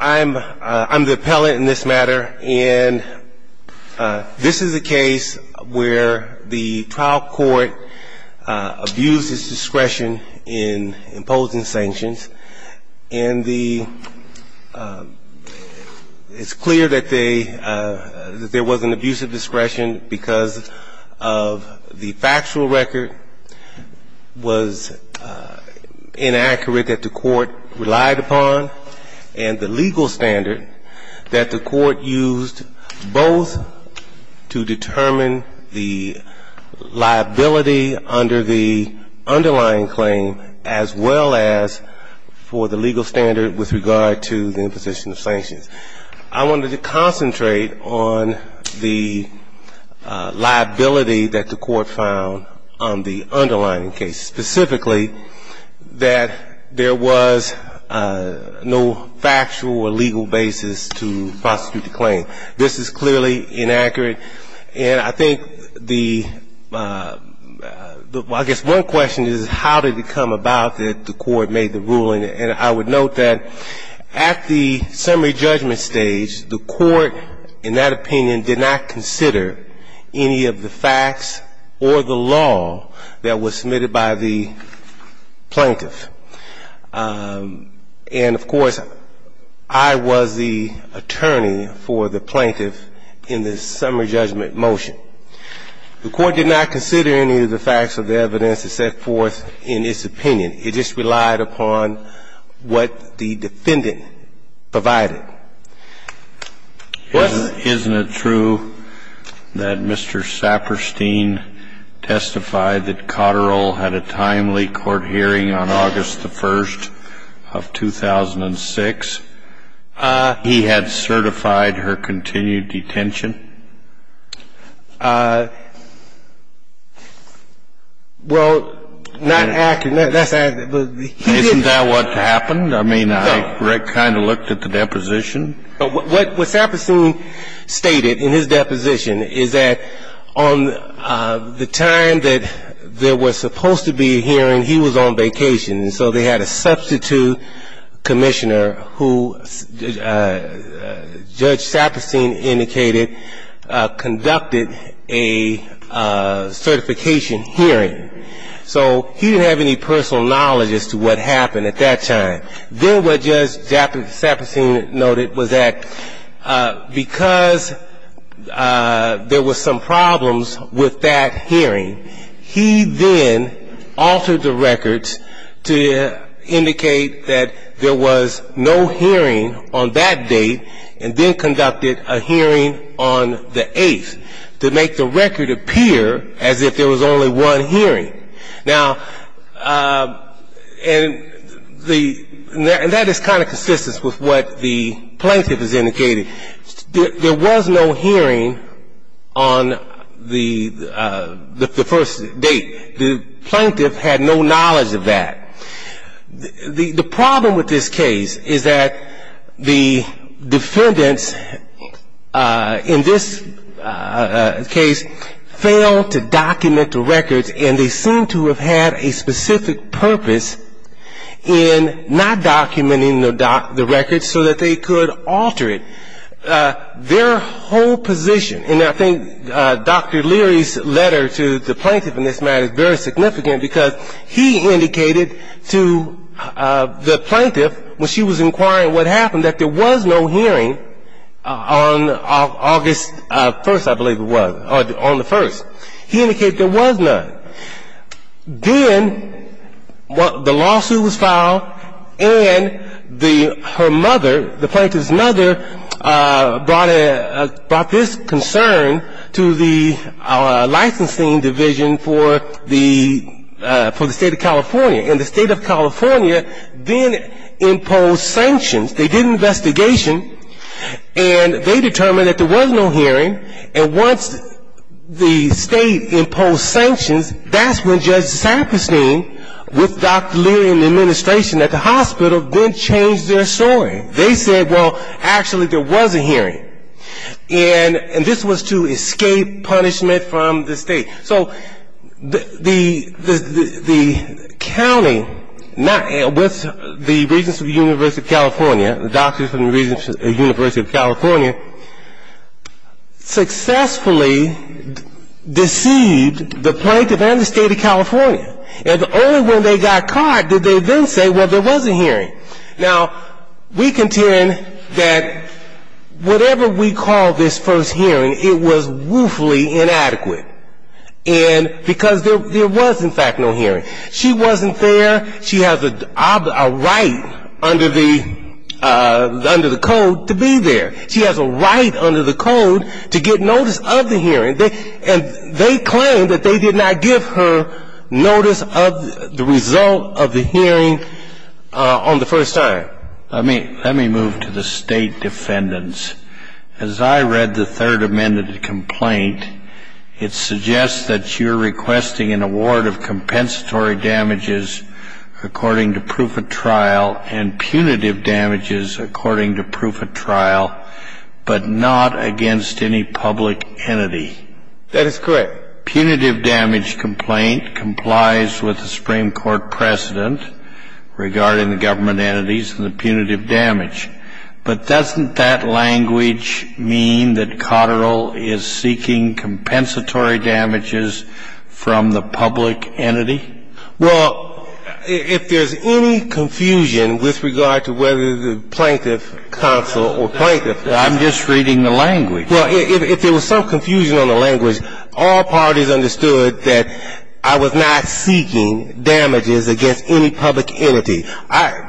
I'm the appellant in this matter, and this is a case where the trial court abused its discretion in imposing sanctions. And it's clear that there was an abuse of discretion because the factual record was inaccurate that the court relied upon, and the legal standard that the court used, both to determine the liability under the underlying claim, as well as for the legal standard with regard to the imposition of sanctions. I wanted to concentrate on the liability that the court found on the underlying case, specifically that there was no factual or legal basis to prosecute the claim. This is clearly inaccurate, and I think the – I guess one question is how did it come about that the court made the ruling? And I would note that at the summary judgment stage, the court in that opinion did not consider any of the facts or the law that was submitted by the plaintiff. And, of course, I was the attorney for the plaintiff in the summary judgment motion. The court did not consider any of the facts or the evidence that set forth in its opinion. It just relied upon what the defendant provided. Isn't it true that Mr. Saperstein testified that Cotterill had a timely court hearing on August the 1st of 2006? He had certified her continued detention? Well, not accurate. Isn't that what happened? I mean, I kind of looked at the deposition. What Saperstein stated in his deposition is that on the time that there was supposed to be a hearing, he was on vacation. And so they had a substitute commissioner who Judge Saperstein indicated conducted a certification hearing. So he didn't have any personal knowledge as to what happened at that time. Then what Judge Saperstein noted was that because there were some problems with that hearing, he then altered the records to indicate that there was no hearing on that date, and then conducted a hearing on the 8th to make the record appear as if there was only one hearing. Now, and that is kind of consistent with what the plaintiff has indicated. There was no hearing on the first date. The plaintiff had no knowledge of that. The problem with this case is that the defendants in this case failed to document the records, and they seem to have had a specific purpose in not documenting the records so that they could alter it. Their whole position, and I think Dr. Leary's letter to the plaintiff in this matter is very significant because he indicated to the plaintiff when she was inquiring what happened that there was no hearing on August 1st, I believe it was, on the 1st. He indicated there was none. Then the lawsuit was filed, and her mother, the plaintiff's mother, brought this concern to our licensing division for the state of California. And the state of California then imposed sanctions. They did an investigation, and they determined that there was no hearing. And once the state imposed sanctions, that's when Judge Saperstein, with Dr. Leary in the administration at the hospital, then changed their story. They said, well, actually there was a hearing, and this was to escape punishment from the state. So the county, with the Regents of the University of California, successfully deceived the plaintiff and the state of California. And only when they got caught did they then say, well, there was a hearing. Now, we contend that whatever we call this first hearing, it was woefully inadequate because there was, in fact, no hearing. She wasn't there. She has a right under the code to be there. She has a right under the code to get notice of the hearing. And they claim that they did not give her notice of the result of the hearing on the first hearing. Let me move to the state defendants. As I read the third amended complaint, it suggests that you're requesting an award of compensatory damages according to proof of trial and punitive damages according to proof of trial, but not against any public entity. That is correct. Punitive damage complaint complies with the Supreme Court precedent regarding the government entities and the punitive damage. But doesn't that language mean that Cotterill is seeking compensatory damages from the public entity? Well, if there's any confusion with regard to whether the plaintiff counsel or plaintiff counsel. I'm just reading the language. Well, if there was some confusion on the language, all parties understood that I was not seeking damages against any public entity.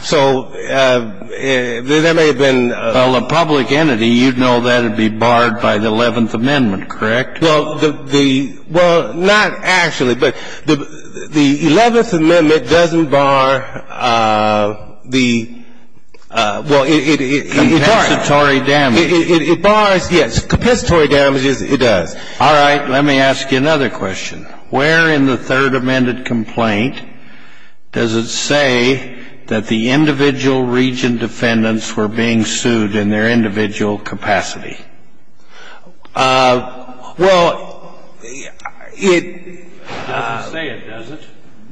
So there may have been. Well, a public entity, you'd know that it'd be barred by the 11th Amendment, correct? Well, the. Well, not actually. But the 11th Amendment doesn't bar the. Well, it. Compensatory damages. It bars, yes. Compensatory damages, it does. All right. Let me ask you another question. Where in the Third Amendment complaint does it say that the individual region defendants were being sued in their individual capacity? Well, it. It doesn't say it, does it?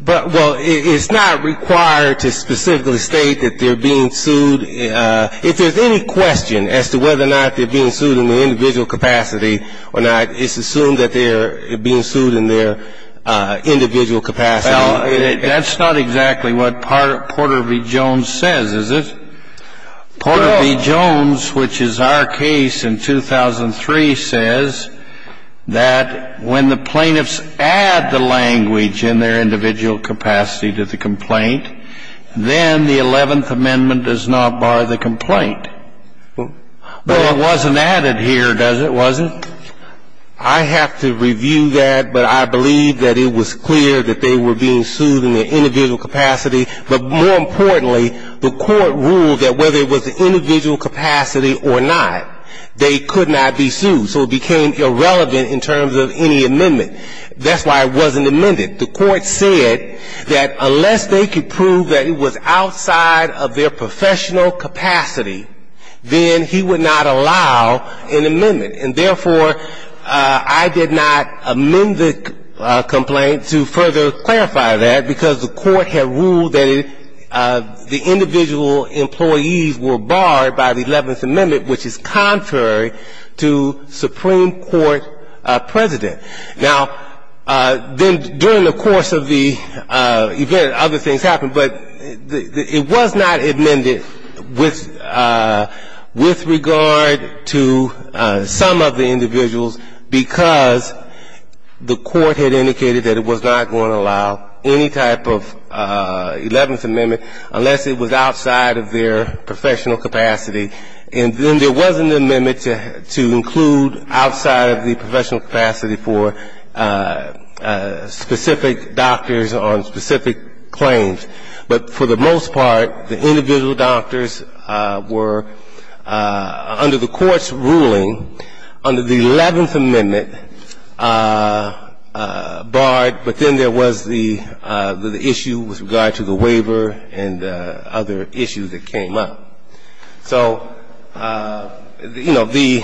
Well, it's not required to specifically state that they're being sued. If there's any question as to whether or not they're being sued in their individual capacity or not, it's assumed that they're being sued in their individual capacity. Well, that's not exactly what Porter v. Jones says, is it? No. Porter v. Jones, which is our case in 2003, says that when the plaintiffs add the language in their individual capacity to the complaint, then the 11th Amendment does not bar the complaint. Well, it wasn't added here, does it, was it? I have to review that, but I believe that it was clear that they were being sued in their individual capacity. But more importantly, the court ruled that whether it was the individual capacity or not, they could not be sued. So it became irrelevant in terms of any amendment. That's why it wasn't amended. The court said that unless they could prove that it was outside of their professional capacity, then he would not allow an amendment. And therefore, I did not amend the complaint to further clarify that, because the court had ruled that the individual employees were barred by the 11th Amendment, which is contrary to Supreme Court precedent. Now, then during the course of the event, other things happened, but it was not amended with regard to some of the individuals, because the court had indicated that it was not going to allow any type of 11th Amendment unless it was outside of their professional capacity. And then there was an amendment to include outside of the professional capacity for specific doctors on specific claims. But for the most part, the individual doctors were, under the court's ruling, under the 11th Amendment, barred. But then there was the issue with regard to the waiver and other issues that came up. So, you know, the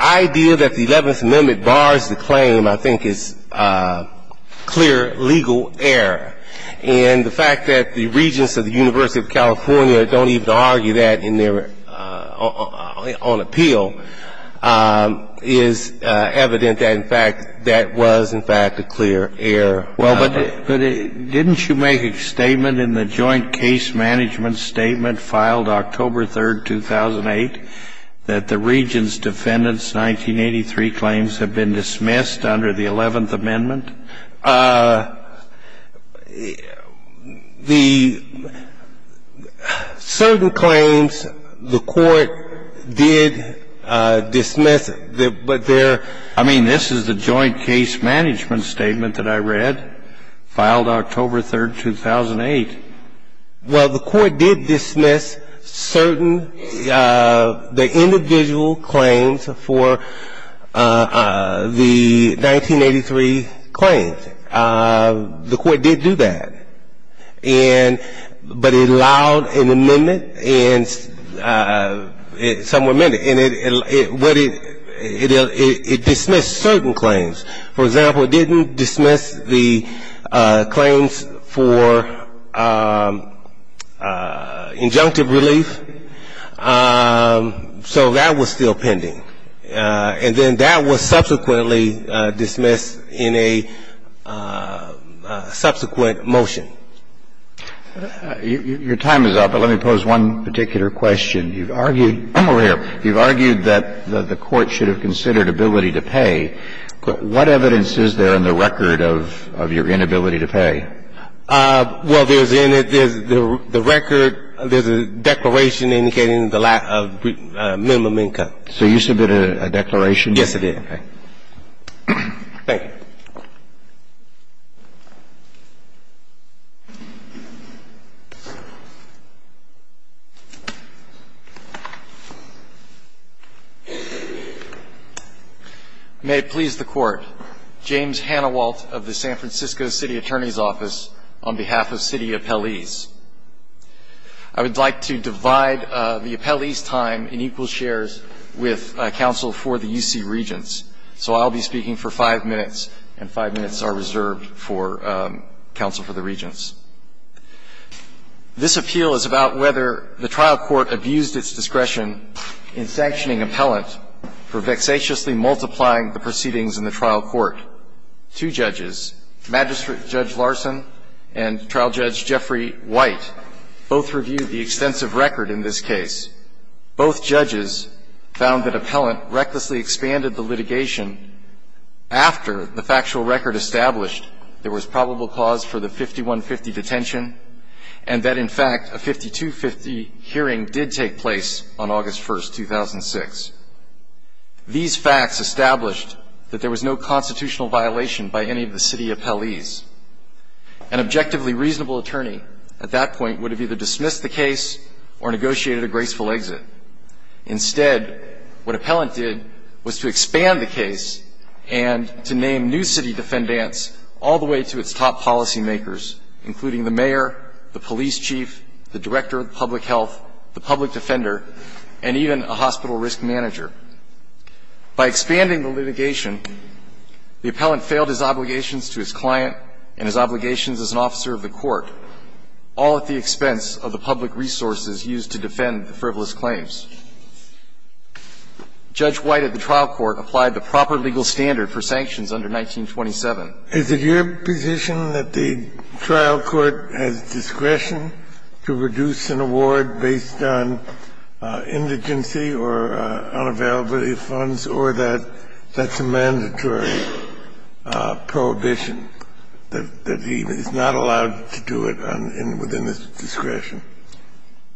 idea that the 11th Amendment bars the claim, I think, is clear legal error. And the fact that the regents of the University of California don't even argue that on appeal is evident that, in fact, that was, in fact, a clear error. Well, but didn't you make a statement in the Joint Case Management Statement filed October 3rd, 2008, that the regents' defendant's 1983 claims have been dismissed under the 11th Amendment? The certain claims the court did dismiss, but there are not. The statement that I read filed October 3rd, 2008. Well, the court did dismiss certain, the individual claims for the 1983 claims. The court did do that. And but it allowed an amendment and some were amended. And it dismissed certain claims. For example, it didn't dismiss the claims for injunctive relief. So that was still pending. And then that was subsequently dismissed in a subsequent motion. Your time is up, but let me pose one particular question. You've argued, over here, you've argued that the court should have considered ability to pay. What evidence is there in the record of your inability to pay? Well, there's in it, there's the record, there's a declaration indicating the lack of minimum income. So you submitted a declaration? Yes, I did. Thank you. Thank you. May it please the Court. James Hanawalt of the San Francisco City Attorney's Office on behalf of city appellees. I would like to divide the appellee's time in equal shares with counsel for the U.C. Regents. So I'll be speaking for five minutes, and five minutes are reserved for counsel for the Regents. This appeal is about whether the trial court abused its discretion in sanctioning appellant for vexatiously multiplying the proceedings in the trial court. Two judges, Magistrate Judge Larson and Trial Judge Jeffrey White, both reviewed the extensive record in this case. Both judges found that appellant recklessly expanded the litigation after the factual record established there was probable cause for the 5150 detention and that, in fact, a 5250 hearing did take place on August 1, 2006. These facts established that there was no constitutional violation by any of the city appellees. An objectively reasonable attorney at that point would have either dismissed the case or negotiated a graceful exit. Instead, what appellant did was to expand the case and to name new city defendants all the way to its top policymakers, including the mayor, the police chief, the director of public health, the public defender, and even a hospital risk manager. By expanding the litigation, the appellant failed his obligations to his client and his public resources used to defend the frivolous claims. Judge White at the trial court applied the proper legal standard for sanctions under 1927. Is it your position that the trial court has discretion to reduce an award based on indigency or unavailability of funds, or that that's a mandatory prohibition, that he is not allowed to do it within his discretion?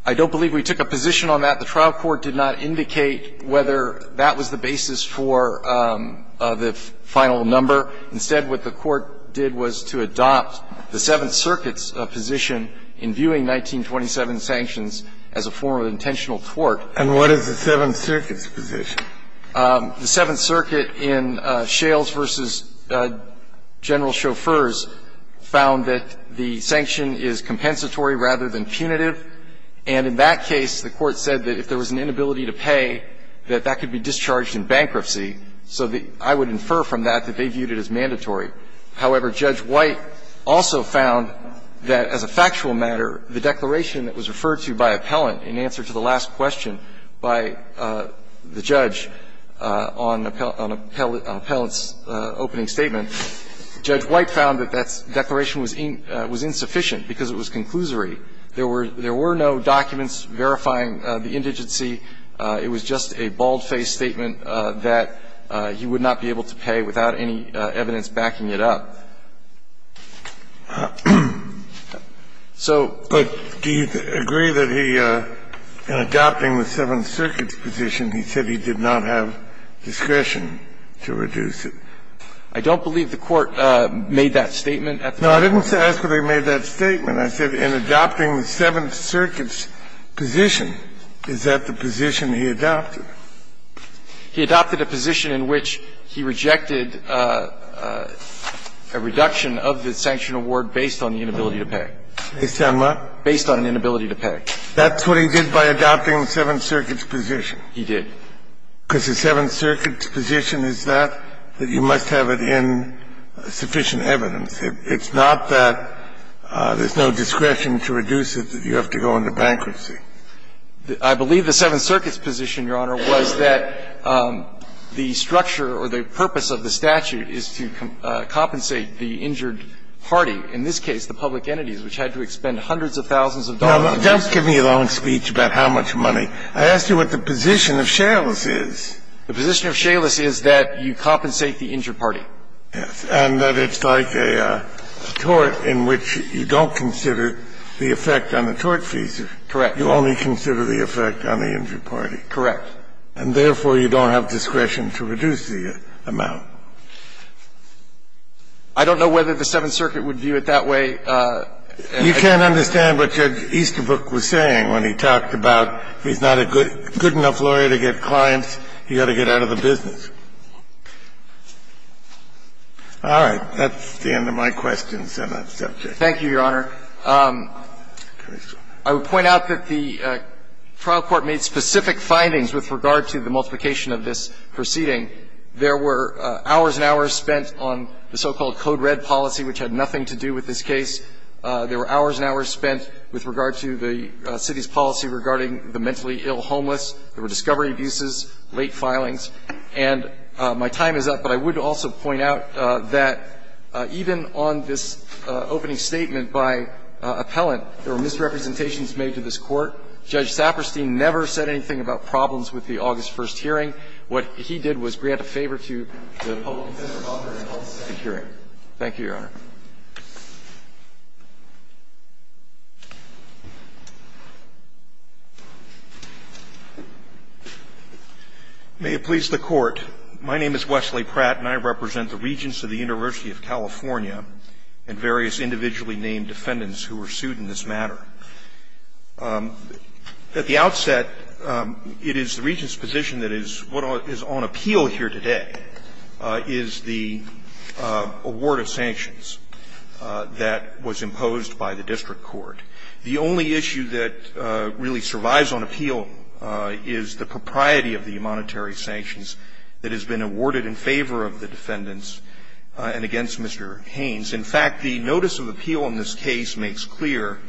I don't believe we took a position on that. The trial court did not indicate whether that was the basis for the final number. Instead, what the court did was to adopt the Seventh Circuit's position in viewing 1927 sanctions as a form of intentional tort. And what is the Seventh Circuit's position? The Seventh Circuit in Shales v. General Chauffeurs found that the sanction is compensatory rather than punitive. And in that case, the Court said that if there was an inability to pay, that that could be discharged in bankruptcy. So I would infer from that that they viewed it as mandatory. However, Judge White also found that, as a factual matter, the declaration that was referred to by appellant in answer to the last question by the judge on appellant's opening statement, Judge White found that that declaration was insufficient because it was conclusory. There were no documents verifying the indigency. It was just a bald-faced statement that he would not be able to pay without any evidence backing it up. So the Court found that the Seventh Circuit's position in viewing 1927 sanctions So I would infer from that that the Court said that if there was an inability to pay, that that could be discharged in bankruptcy. So the Court found that that declaration was insufficient because it was conclusory. However, Judge White found that there was a reduction of the sanction award based on the inability to pay. Based on what? Based on an inability to pay. That's what he did by adopting the Seventh Circuit's position. He did. Because the Seventh Circuit's position is that, that you must have it in sufficient evidence. It's not that there's no discretion to reduce it, that you have to go into bankruptcy. I believe the Seventh Circuit's position, Your Honor, was that the structure or the purpose of the statute is to compensate the injured party, in this case the public entities, which had to expend hundreds of thousands of dollars. Now, don't give me a long speech about how much money. I asked you what the position of shaleless is. The position of shaleless is that you compensate the injured party. And that it's like a tort in which you don't consider the effect on the tort fee. Correct. You only consider the effect on the injured party. Correct. And therefore, you don't have discretion to reduce the amount. I don't know whether the Seventh Circuit would view it that way. You can't understand what Judge Easterbrook was saying when he talked about he's not a good enough lawyer to get clients, he's got to get out of the business. All right. That's the end of my questions on that subject. Thank you, Your Honor. I would point out that the trial court made specific findings with regard to the multiplication of this proceeding. There were hours and hours spent on the so-called code red policy, which had nothing to do with this case. There were hours and hours spent with regard to the city's policy regarding the mentally ill homeless. There were discovery abuses, late filings. And my time is up, but I would also point out that even on this opening statement by appellant, there were misrepresentations made to this court. Judge Saperstein never said anything about problems with the August 1st hearing. What he did was grant a favor to the public defender of the public hearing. Thank you, Your Honor. May it please the Court. My name is Wesley Pratt, and I represent the Regents of the University of California and various individually named defendants who were sued in this matter. At the outset, it is the Regents' position that is what is on appeal here today is the award of sanctions that was imposed by the district court. The only issue that really survives on appeal is the propriety of the monetary sanctions that has been awarded in favor of the defendants and against Mr. Haynes. In fact, the notice of appeal in this case makes clear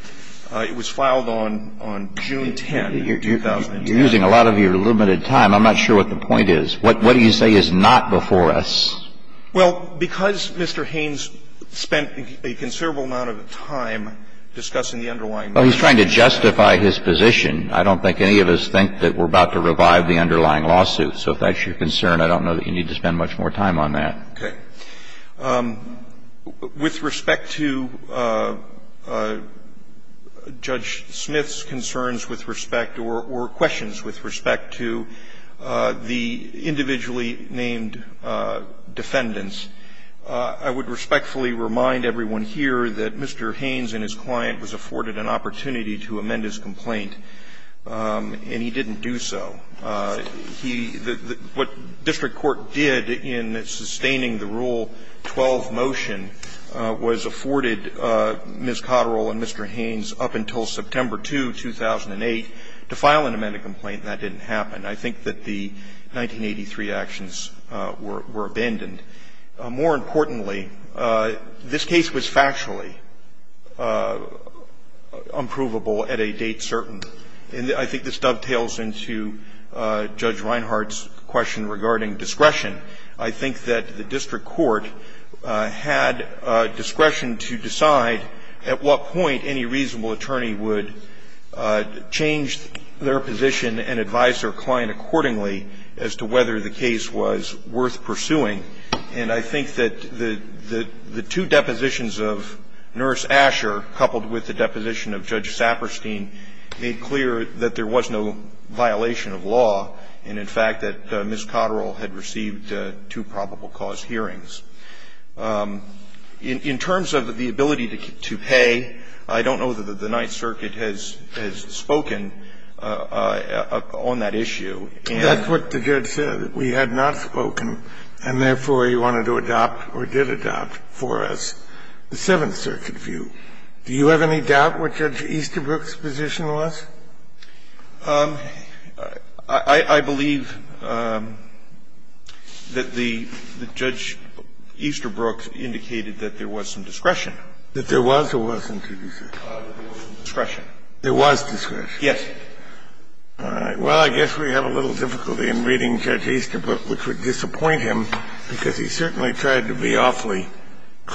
it was filed on June 10, 2009. You're using a lot of your limited time. I'm not sure what the point is. What do you say is not before us? Well, because Mr. Haynes spent a considerable amount of time discussing the underlying matter. Well, he's trying to justify his position. I don't think any of us think that we're about to revive the underlying lawsuit. So if that's your concern, I don't know that you need to spend much more time on that. Okay. With respect to Judge Smith's concerns with respect or questions with respect to the individually named defendants, I would respectfully remind everyone here that Mr. Haynes and his client was afforded an opportunity to amend his complaint, and he didn't do so. He the what district court did in sustaining the Rule 12 motion was afforded Ms. Cotterill and Mr. Haynes up until September 2, 2008, to file an amended complaint, and that didn't happen. I think that the 1983 actions were abandoned. More importantly, this case was factually unprovable at a date certain. And I think this dovetails into Judge Reinhart's question regarding discretion. I think that the district court had discretion to decide at what point any reasonable attorney would change their position and advise their client accordingly as to whether the case was worth pursuing. And I think that the two depositions of Nurse Asher coupled with the deposition of Judge Saperstein made clear that there was no violation of law, and in fact, that Ms. Cotterill had received two probable cause hearings. In terms of the ability to pay, I don't know that the Ninth Circuit has spoken on that issue, and that's what the judge said. We had not spoken, and therefore, he wanted to adopt or did adopt for us the Seventh Circuit view. Do you have any doubt what Judge Easterbrook's position was? I believe that the Judge Easterbrook indicated that there was some discretion. That there was or wasn't discretion? There was discretion. Yes. All right. Well, I guess we have a little difficulty in reading Judge Easterbrook, which would be a little difficult to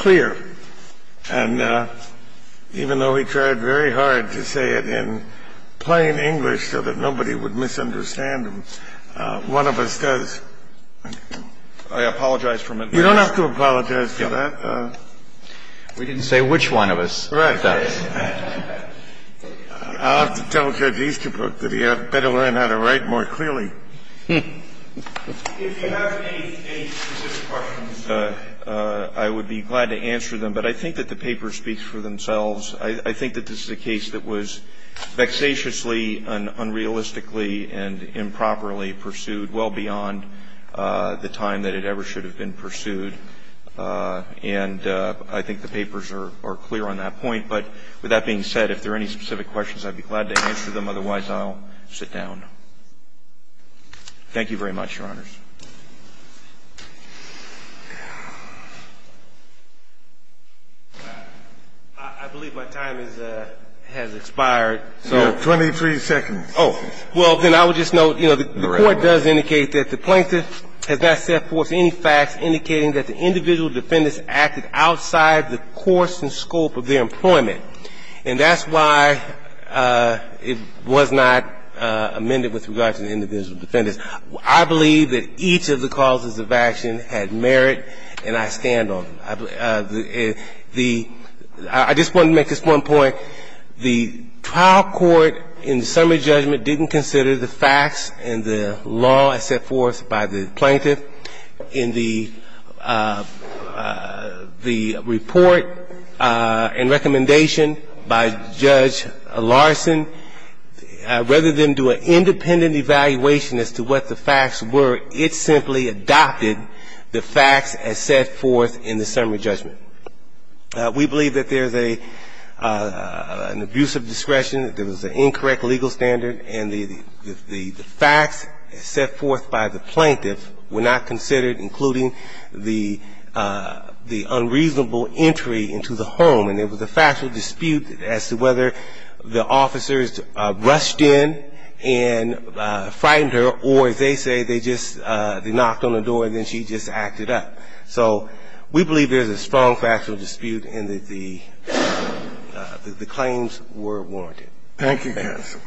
read, even though he tried very hard to say it in plain English so that nobody would misunderstand him. One of us does. I apologize for my mistake. You don't have to apologize for that. We didn't say which one of us does. I'll have to tell Judge Easterbrook that he had better learn how to write more clearly. If you have any specific questions, I would be glad to answer them, but I think that the paper speaks for themselves. I think that this is a case that was vexatiously and unrealistically and improperly pursued, well beyond the time that it ever should have been pursued. And I think the papers are clear on that point. But with that being said, if there are any specific questions, I'd be glad to answer them. Otherwise, I'll sit down. Thank you very much, Your Honors. I believe my time has expired. You have 23 seconds. Well, then I would just note, you know, the court does indicate that the plaintiff has not set forth any facts indicating that the individual defendants acted outside the course and scope of their employment. And that's why it was not amended with regard to the individual defendants. Because I believe that each of the causes of action had merit, and I stand on them. I just want to make this one point. The trial court in the summary judgment didn't consider the facts and the law as set forth by the plaintiff in the report and recommendation by Judge Larson. Rather than do an independent evaluation as to what the facts were, it simply adopted the facts as set forth in the summary judgment. We believe that there's an abuse of discretion, there was an incorrect legal standard, and the facts as set forth by the plaintiff were not considered, including the unreasonable entry into the home, and there was a factual dispute as to whether the officers rushed in and frightened her or, as they say, they just knocked on the door and then she just acted up. So we believe there's a strong factual dispute and that the claims were warranted. Thank you, counsel.